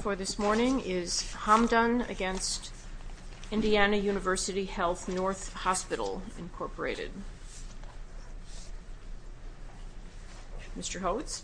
for this morning is Hamdan v. Indiana University Health North Hospital Incorporated. Mr. Hodes.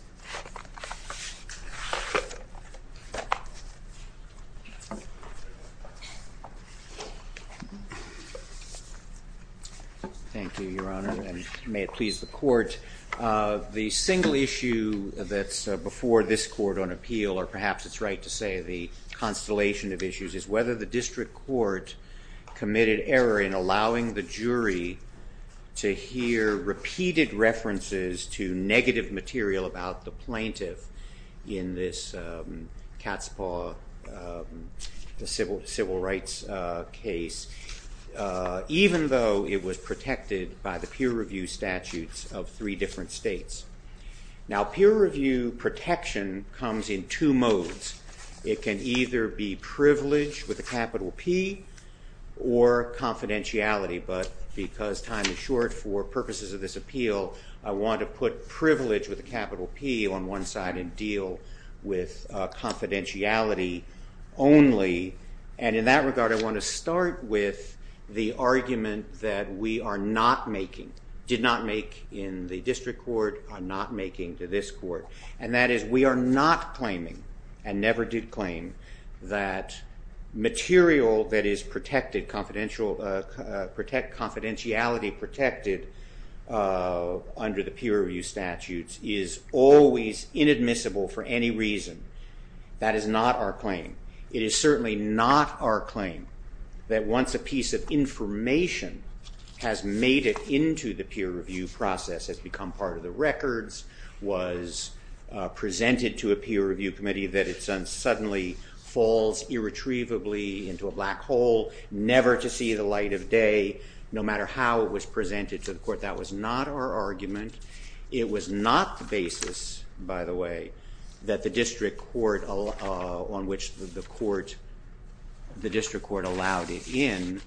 Thank you, Your Honor, and may it please the Court. The single issue that's before this appeal, or perhaps it's right to say the constellation of issues, is whether the District Court committed error in allowing the jury to hear repeated references to negative material about the plaintiff in this Katzpah civil rights case, even though it was protected by the peer review statutes of three different states. Now peer review protection comes in two modes. It can either be Privilege with a capital P or Confidentiality, but because time is short for purposes of this appeal, I want to put Privilege with a capital P on one side and deal with Confidentiality only. And in that regard, I want to start with the argument that we are not making, did not make in the case, but not making to this Court, and that is we are not claiming and never did claim that material that is confidentiality protected under the peer review statutes is always inadmissible for any reason. That is not our claim. It is certainly not our claim that once a piece of information has made it into the peer review process, has become part of the records, was presented to a peer review committee, that it suddenly falls irretrievably into a black hole, never to see the light of day, no matter how it was presented to the Court. That was not our argument. It was not the basis, by the way, that the District Court on which the District Court allowed it in,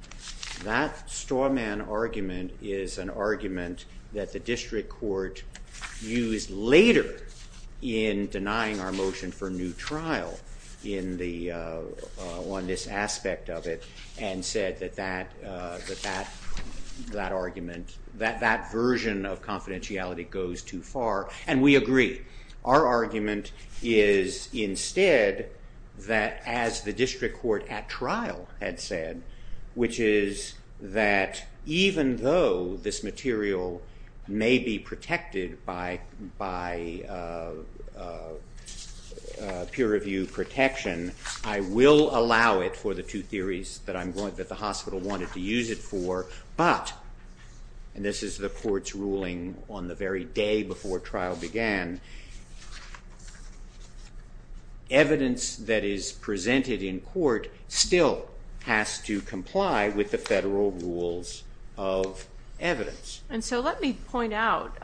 that straw man argument is an argument that the District Court used later in denying our motion for new trial on this aspect of it and said that that argument, that version of confidentiality goes too far, and we agree. Our argument is instead that as the District Court at trial had said, which is that even though this material may be protected by peer review protection, I will allow it for the two theories that the hospital wanted to use it for, but, and this is the Court's ruling on the very day before trial began, evidence that is presented in court still has to comply with the federal rules of evidence. And so let me point out,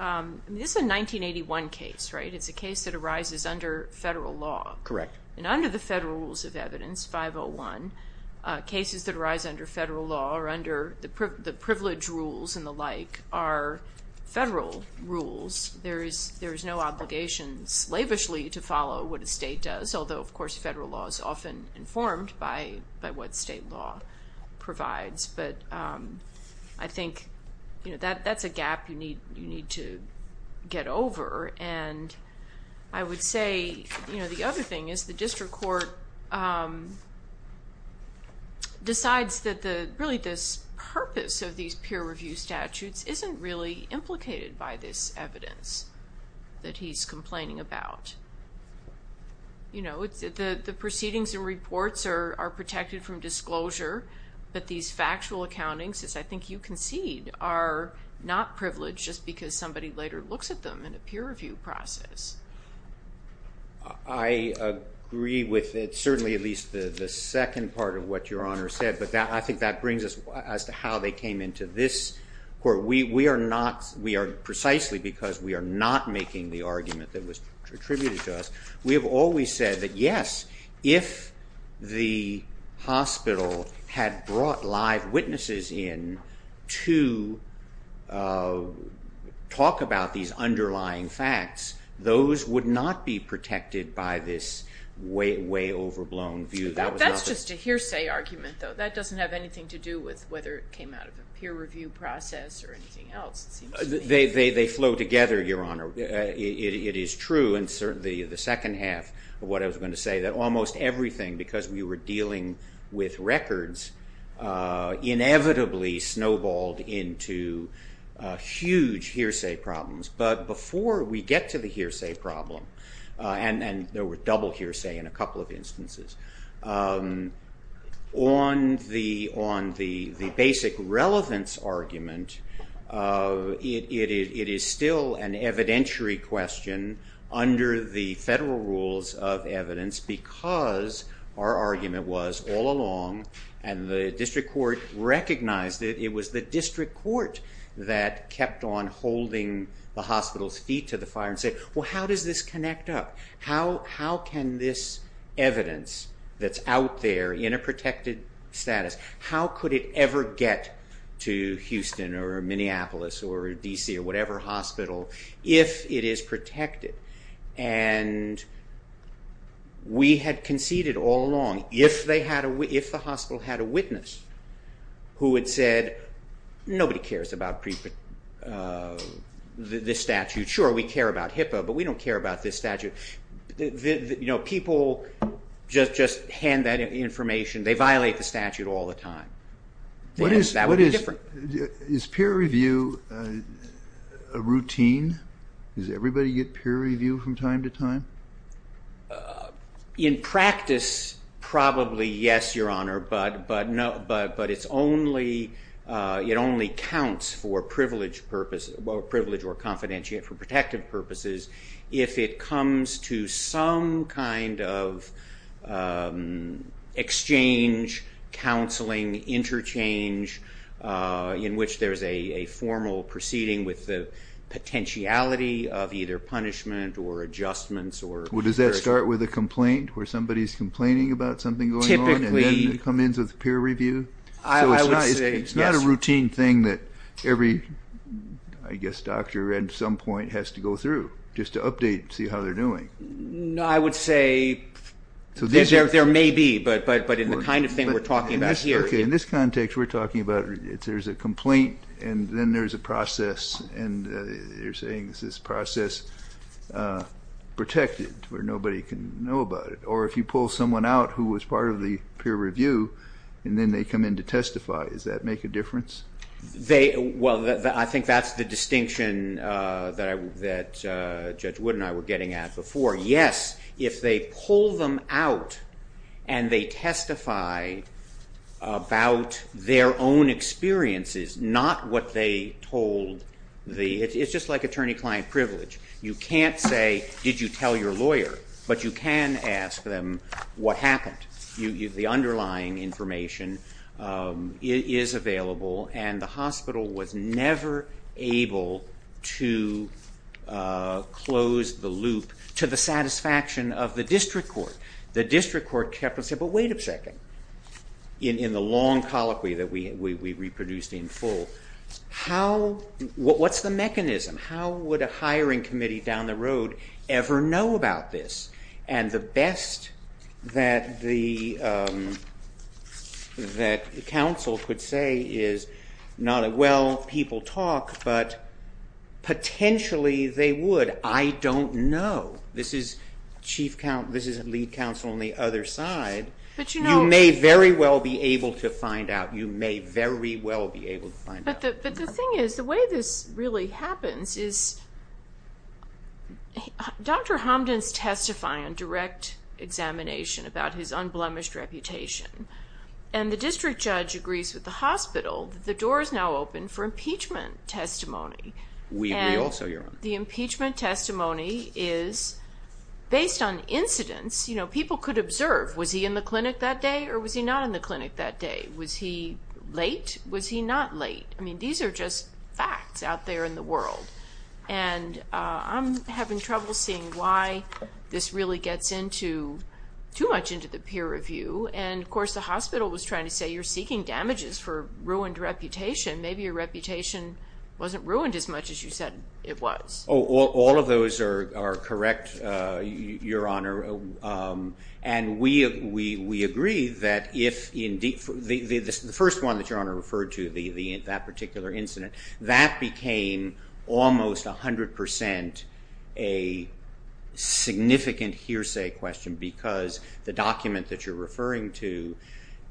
this is a 1981 case, right? It's a case that arises under federal law. Correct. And under the federal rules of evidence, 501, cases that arise under federal law or under the privilege rules and the like are federal rules. There is no obligation slavishly to follow what a state does, although of course federal law is often informed by what state law provides. But I think that's a gap you need to get over. And I would say the other thing is the District Court decides that really this provision of purpose of these peer review statutes isn't really implicated by this evidence that he's complaining about. You know, the proceedings and reports are protected from disclosure, but these factual accountings, as I think you concede, are not privileged just because somebody later looks at them in a peer review process. I agree with it, certainly at least the second part of what Your Honor said, but I think that brings us as to how they came into this court. We are not, we are precisely because we are not making the argument that was attributed to us, we have always said that yes, if the hospital had brought live witnesses in to talk about these underlying facts, those would not be protected by this way overblown view. That's just a hearsay argument though, that doesn't have anything to do with whether it came out of a peer review process or anything else. They flow together, Your Honor. It is true, and certainly the second half of what I was going to say, that almost everything, because we were dealing with records, inevitably snowballed into huge hearsay problems. But before we get to the hearsay problem, and there were double hearsay in a couple of instances, on the basic relevance argument, it is still an evidentiary question under the federal rules of evidence because our argument was all along, and the district court recognized it, it was the district court that kept on saying, how can this evidence that's out there in a protected status, how could it ever get to Houston or Minneapolis or D.C. or whatever hospital if it is protected? We had conceded all along, if the hospital had a witness who had said, nobody cares about this statute. Sure, we care about HIPAA, but we don't care about this statute. People just hand that information, they violate the statute all the time. What is, is peer review a routine? Does everybody get peer review from time to time? In practice, probably yes, Your Honor, but it's only, it only counts for peer review for privilege or confidentiality, for protective purposes, if it comes to some kind of exchange, counseling, interchange, in which there is a formal proceeding with the potentiality of either punishment or adjustments. Does that start with a complaint, where somebody is complaining about something going on, and then it comes in with peer review? I would say, yes. It's not a routine thing that every, I guess, doctor at some point has to go through, just to update, see how they're doing. I would say, there may be, but in the kind of thing we're talking about here. Okay, in this context, we're talking about, there's a complaint, and then there's a process, and you're saying, is this process protected, where nobody can know about it, or if you come in to testify, does that make a difference? They, well, I think that's the distinction that Judge Wood and I were getting at before. Yes, if they pull them out, and they testify about their own experiences, not what they told the, it's just like attorney-client privilege. You can't say, did you tell your lawyer? But you can ask them, what happened? The underlying information is available, and the hospital was never able to close the loop to the satisfaction of the district court. The district court kept on saying, but wait a second, in the long colloquy that we reproduced in full, how, what's the mechanism? How would a hiring committee down the road ever know about this? And the best that the, that counsel could say is, well, people talk, but potentially they would. I don't know. This is chief, this is lead counsel on the other side, you may very well be able to find out. You may very well be able to find out. But the thing is, the way this really happens is, Dr. Homden's testifying on direct examination about his unblemished reputation, and the district judge agrees with the hospital that the door is now open for impeachment testimony. We will, so Your Honor. The impeachment testimony is based on incidents. People could observe, was he in the clinic that day, or was he not in the clinic that day? Was he late? Was he not late? I mean, these are just facts out there in the world. And I'm having trouble seeing why this really gets into, too much into the peer review. And of course, the hospital was trying to say, you're seeking damages for ruined reputation. Maybe your reputation wasn't ruined as much as you said it was. All of those are correct, Your Honor. And we agree that if, the first one that Your Honor referred to, that particular incident, that became almost 100% a significant hearsay question, because the document that you're referring to,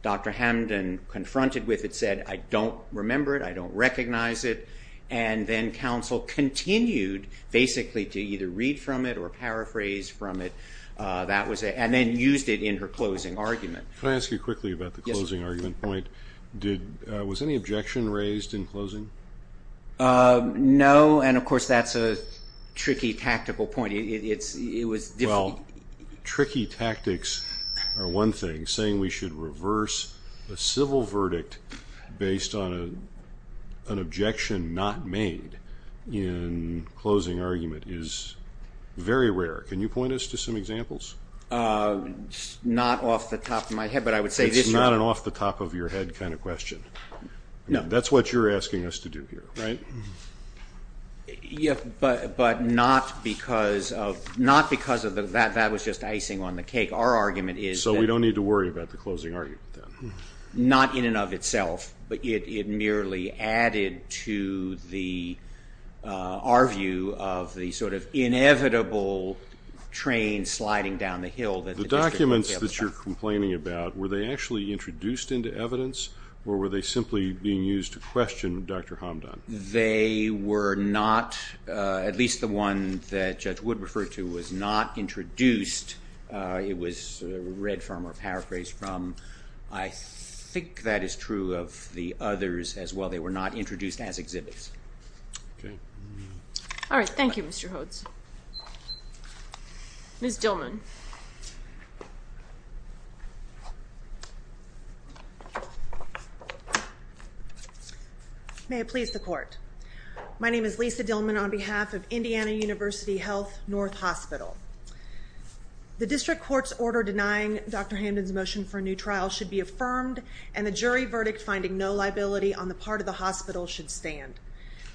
Dr. Homden confronted with it, said, I don't remember it. I don't recognize it. And then counsel continued basically to either read from it or paraphrase from it. That was it. And then used it in her closing argument. Can I ask you quickly about the closing argument point? Was any objection raised in closing? No. And of course, that's a tricky tactical point. It was difficult. Tricky tactics are one thing, saying we should reverse a civil verdict based on an objection not made in closing argument is very rare. Can you point us to some examples? Not off the top of my head, but I would say this was- It's not an off the top of your head kind of question. That's what you're asking us to do here, right? But not because of, that was just icing on the cake. Our argument is that- So we don't need to worry about the closing argument then? Not in and of itself, but it merely added to our view of the sort of inevitable train sliding down the hill that the district- The documents that you're complaining about, were they actually introduced into evidence or were they simply being used to question Dr. Hamdan? They were not, at least the one that Judge Wood referred to, was not introduced. It was read from or paraphrased from. I think that is true of the others as well. They were not introduced as exhibits. Okay. All right, thank you, Mr. Hodes. May it please the court. My name is Lisa Dillman on behalf of Indiana University Health North Hospital. The district court's order denying Dr. Hamdan's motion for a new trial should be affirmed and the jury verdict finding no liability on the part of the hospital should stand.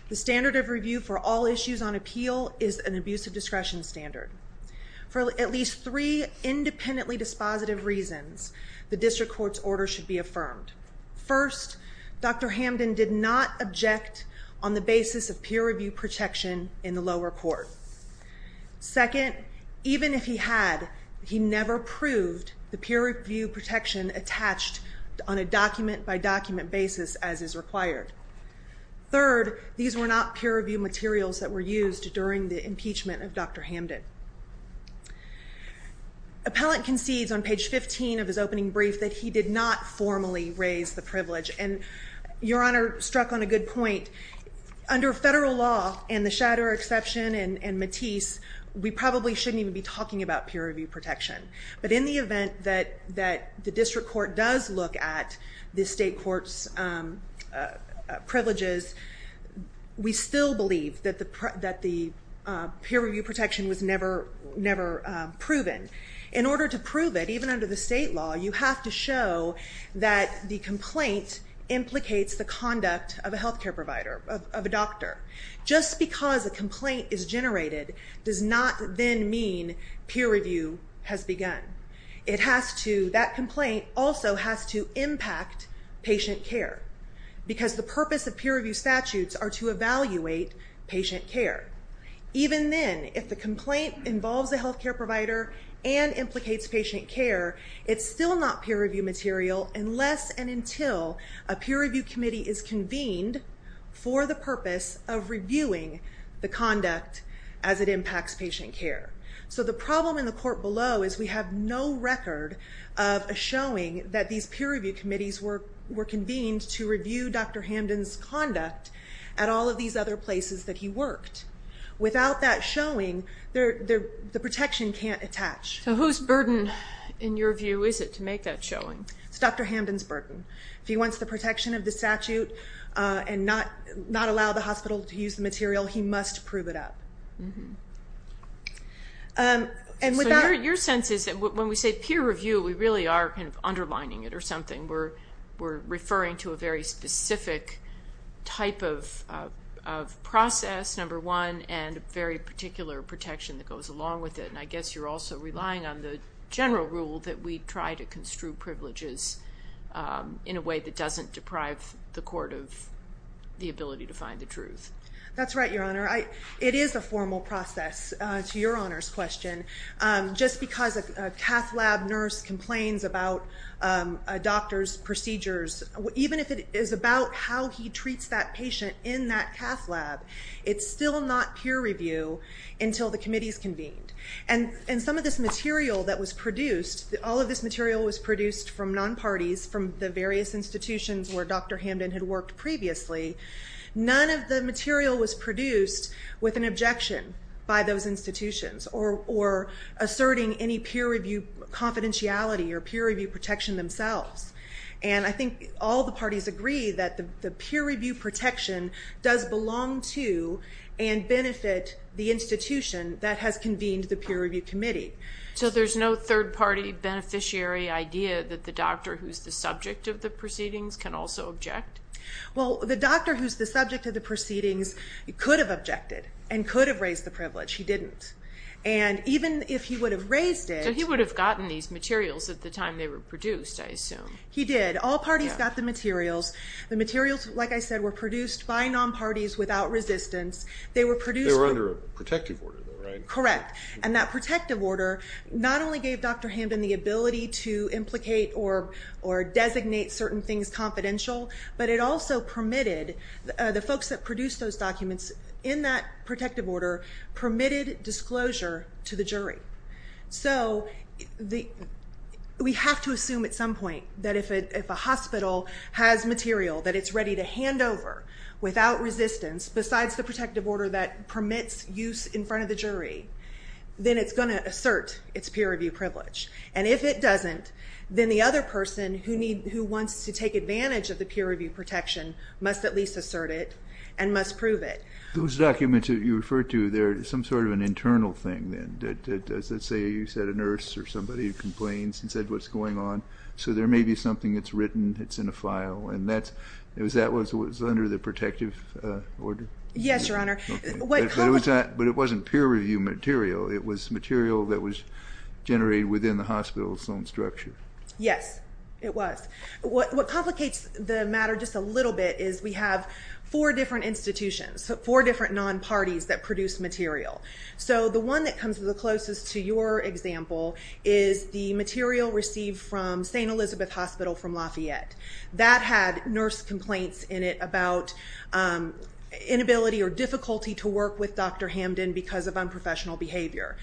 The standard of review for all issues on appeal is an abuse of discretion standard. For at least three independently dispositive reasons, the district court's order should be affirmed. First, Dr. Hamdan did not object on the basis of peer review protection in the lower court. Second, even if he had, he never proved the peer review protection attached on a document by document basis as is required. Third, these were not peer review materials that were used during the impeachment of Dr. Hamdan. Appellant concedes on page 15 of his opening brief that he did not formally raise the privilege and your honor struck on a good point. Under federal law and the Shatterer exception and Matisse, we probably shouldn't even be talking about peer review protection. But in the event that the district court does look at the state court's privileges, we still believe that the peer review protection was never proven. In order to prove it, even under the state law, you have to show that the complaint implicates the conduct of a healthcare provider, of a doctor. Just because a complaint is generated does not then mean peer review has begun. It has to, that complaint also has to impact patient care. Because the purpose of peer review statutes are to evaluate patient care. Even then, if the complaint involves a healthcare provider and implicates patient care, it's still not peer review material unless and until a peer review committee is convened for the purpose of reviewing the conduct as it impacts patient care. So the problem in the court below is we have no record of a showing that these peer review committees were convened to review Dr. Hamden's conduct at all of these other places that he worked. Without that showing, the protection can't attach. So whose burden, in your view, is it to make that showing? It's Dr. Hamden's burden. If he wants the protection of the statute and not allow the hospital to use the material, he must prove it up. So your sense is that when we say peer review, we really are kind of underlining it or something. We're referring to a very specific type of process, number one, and very particular protection that goes along with it. And I guess you're also relying on the general rule that we try to construe privileges in a way that doesn't deprive the court of the ability to find the truth. That's right, Your Honor. It is a formal process, to Your Honor's question. Just because a cath lab nurse complains about a doctor's procedures, even if it is about how he treats that patient in that cath lab, it's still not peer review until the committee is convened. And some of this material that was produced, all of this material was produced from non-parties, from the various institutions where Dr. Hamden had worked previously. None of the material was produced with an objection by those institutions or asserting any peer review confidentiality or peer review protection themselves. And I think all the parties agree that the peer review protection does belong to and benefit the institution that has convened the peer review committee. So there's no third-party beneficiary idea that the doctor who's the subject of the proceedings can also object? Well, the doctor who's the subject of the proceedings could have objected and could have raised the privilege. He didn't. And even if he would have raised it... So he would have gotten these materials at the time they were produced, I assume. He did. All parties got the materials. The materials, like I said, were produced by non-parties without resistance. They were produced... They were under a protective order, though, right? Correct. And that protective order not only gave Dr. Hamden the ability to implicate or designate certain things confidential, but it also permitted... The folks that produced those documents in that protective order permitted disclosure to the jury. So we have to assume at some point that if a hospital has material that it's ready to hand over without resistance, besides the protective order that permits use in front of the jury, then it's going to assert its peer review privilege. And if it doesn't, then the other person who wants to take advantage of the peer review protection must at least assert it and must prove it. Those documents that you referred to, they're some sort of an internal thing, then. Let's say you said a nurse or somebody who complains and said, what's going on? So there may be something that's written, it's in a file, and that was under the protective order? Yes, Your Honor. Okay. But it wasn't peer review material. It was material that was generated within the hospital's own structure. Yes, it was. What complicates the matter just a little bit is we have four different institutions, four different non-parties that produce material. So the one that comes to the closest to your example is the material received from St. Elizabeth Hospital from Lafayette. That had nurse complaints in it about inability or difficulty to work with Dr. Hamden because of unprofessional behavior.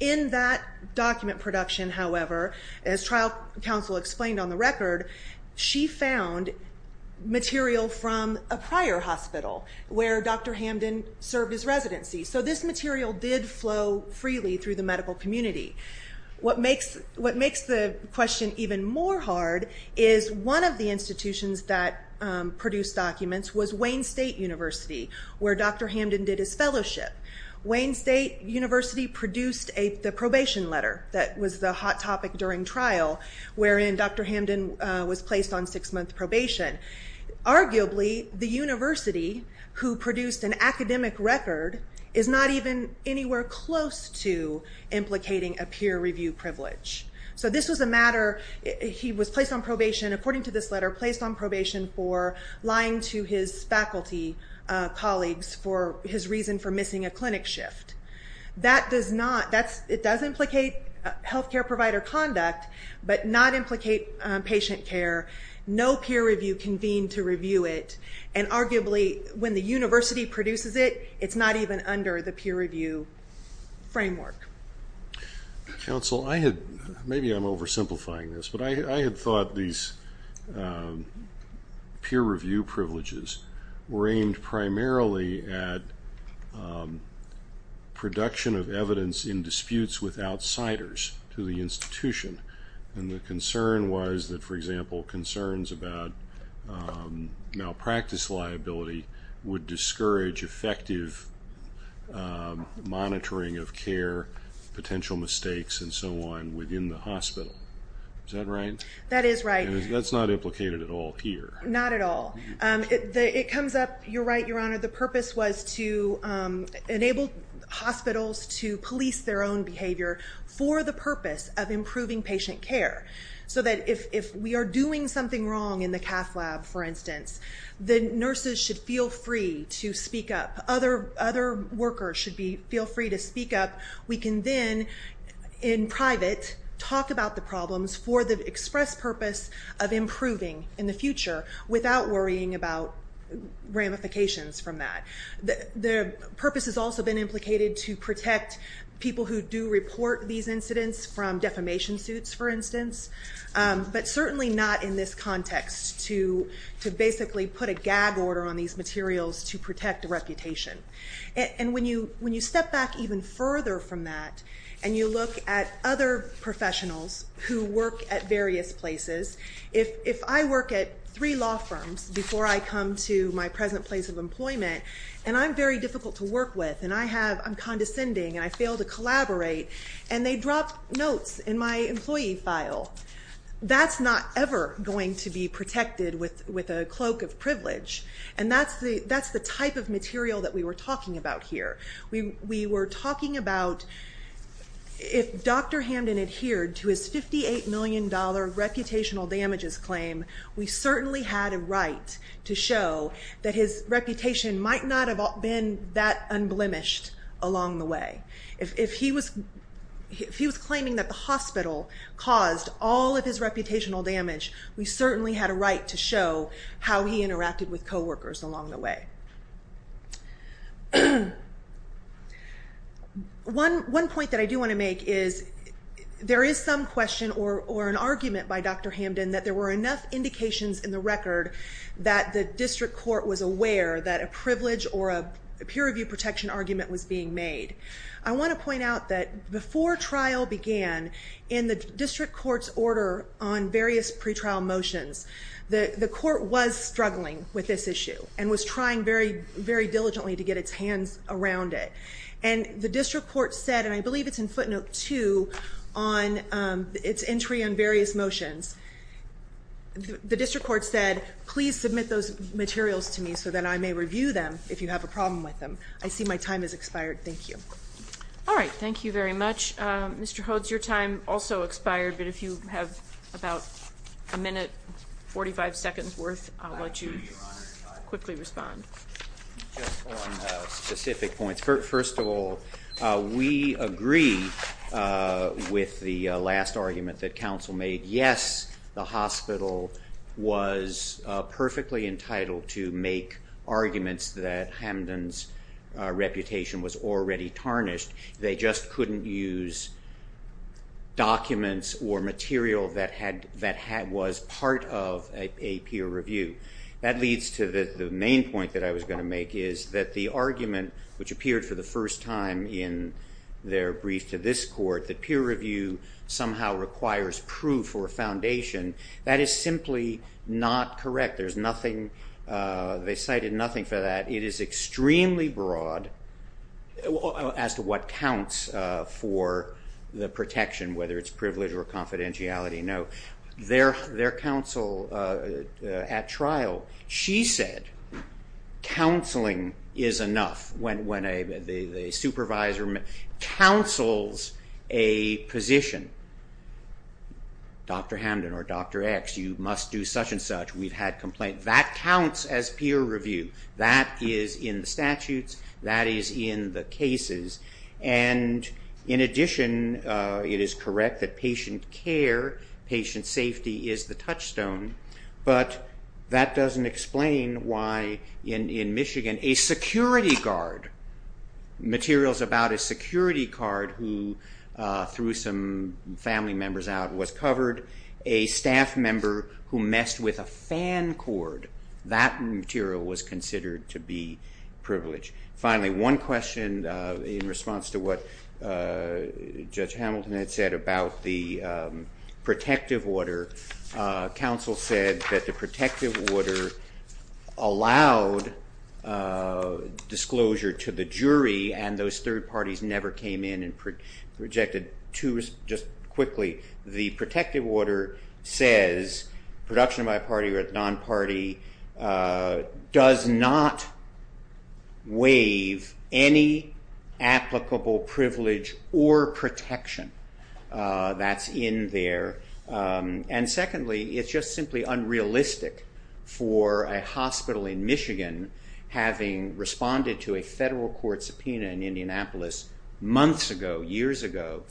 In that document production, however, as trial counsel explained on the record, she found material from a prior hospital where Dr. Hamden served his residency. So this material did flow freely through the medical community. What makes the question even more hard is one of the institutions that produced documents was Wayne State University, where Dr. Hamden did his fellowship. Wayne State University produced the probation letter that was the hot topic during trial wherein Dr. Hamden was placed on six-month probation. Arguably, the university who produced an academic record is not even anywhere close to implicating a peer review privilege. So this was a matter, he was placed on probation, according to this letter, placed on probation for lying to his faculty colleagues for his reason for missing a clinic shift. That does not, it does implicate health care provider conduct, but not implicate patient care. No peer review convened to review it. And arguably, when the university produces it, it's not even under the peer review framework. Counsel, I had, maybe I'm oversimplifying this, but I had thought these peer review privileges were aimed primarily at production of evidence in disputes with outsiders to the institution. And the concern was that, for example, concerns about malpractice liability would discourage effective monitoring of care, potential mistakes, and so on, within the hospital. Is that right? That is right. That's not implicated at all here. Not at all. It comes up, you're right, Your Honor, the purpose was to enable hospitals to police their own behavior for the purpose of improving patient care. So that if we are doing something wrong in the cath lab, for instance, the nurses should feel free to speak up. Other workers should feel free to speak up. We can then, in private, talk about the problems for the express purpose of improving in the future without worrying about ramifications from that. The purpose has also been implicated to protect people who do report these incidents from defamation suits, for instance, but certainly not in this context to basically put a gag order on these materials to protect a reputation. And when you step back even further from that and you look at other professionals who work at various places, if I work at three law firms before I come to my present place of employment and I'm very difficult to work with and I'm condescending and I fail to collaborate and they drop notes in my employee file, that's not ever going to be protected with a cloak of privilege. And that's the type of material that we were talking about here. We were talking about if Dr. Hamden adhered to his $58 million reputational damages claim, we certainly had a right to show that his reputation might not have been that unblemished along the way. If he was claiming that the hospital caused all of his reputational damage, we certainly had a right to show how he interacted with coworkers along the way. One point that I do want to make is there is some question or an argument by Dr. Hamden that there were enough indications in the record that the district court was aware that a privilege or a peer review protection argument was being made. I want to point out that before trial began, in the district court's order on various pretrial motions, the court was struggling with this issue and was trying very, very diligently to get its hands around it. And the district court said, and I believe it's in footnote 2 on its entry on various motions, the district court said, please submit those materials to me so that I may review them if you have a problem with them. I see my time has expired. Thank you. All right. Thank you very much. Mr. Hodes, your time also expired, but if you have about a minute, 45 seconds worth, I'll let you quickly respond. Just on specific points, first of all, we agree with the last argument that counsel made. Yes, the hospital was perfectly entitled to make arguments that Hamden's reputation was already tarnished. They just couldn't use documents or material that was part of a peer review. That leads to the main point that I was going to make, is that the argument which appeared for the first time in their brief to this court, that peer review somehow requires proof or a foundation, that is simply not correct. There's nothing, they cited nothing for that. It is extremely broad as to what counts for the protection, whether it's privilege or confidentiality. No. Their counsel at trial, she said, counseling is enough when a supervisor counsels a position. Dr. Hamden or Dr. X, you must do such and such. We've had complaints. That counts as peer review. That is in the statutes, that is in the cases. In addition, it is correct that patient care, patient safety is the touchstone, but that doesn't explain why in Michigan a security guard, materials about a security guard who threw some family members out was covered, a staff member who messed with a fan cord, that material was considered to be privilege. Finally, one question in response to what Judge Hamilton had said about the protective order, counsel said that the protective order allowed disclosure to the jury and those third parties never came in and rejected just quickly. The protective order says production by a party or a non-party does not waive any applicable privilege or protection that's in there, and secondly, it's just simply unrealistic for a hospital in Michigan having responded to a federal court subpoena in Indianapolis months ago, years ago,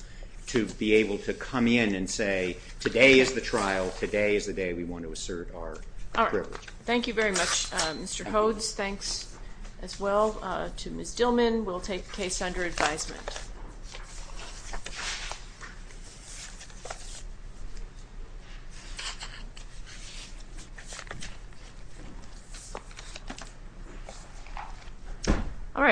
to be able to come in and say today is the trial, today is the day we want to assert our privilege. Thank you very much, Mr. Hodes. Thanks as well to Ms. Dillman. We'll take the case under advisement.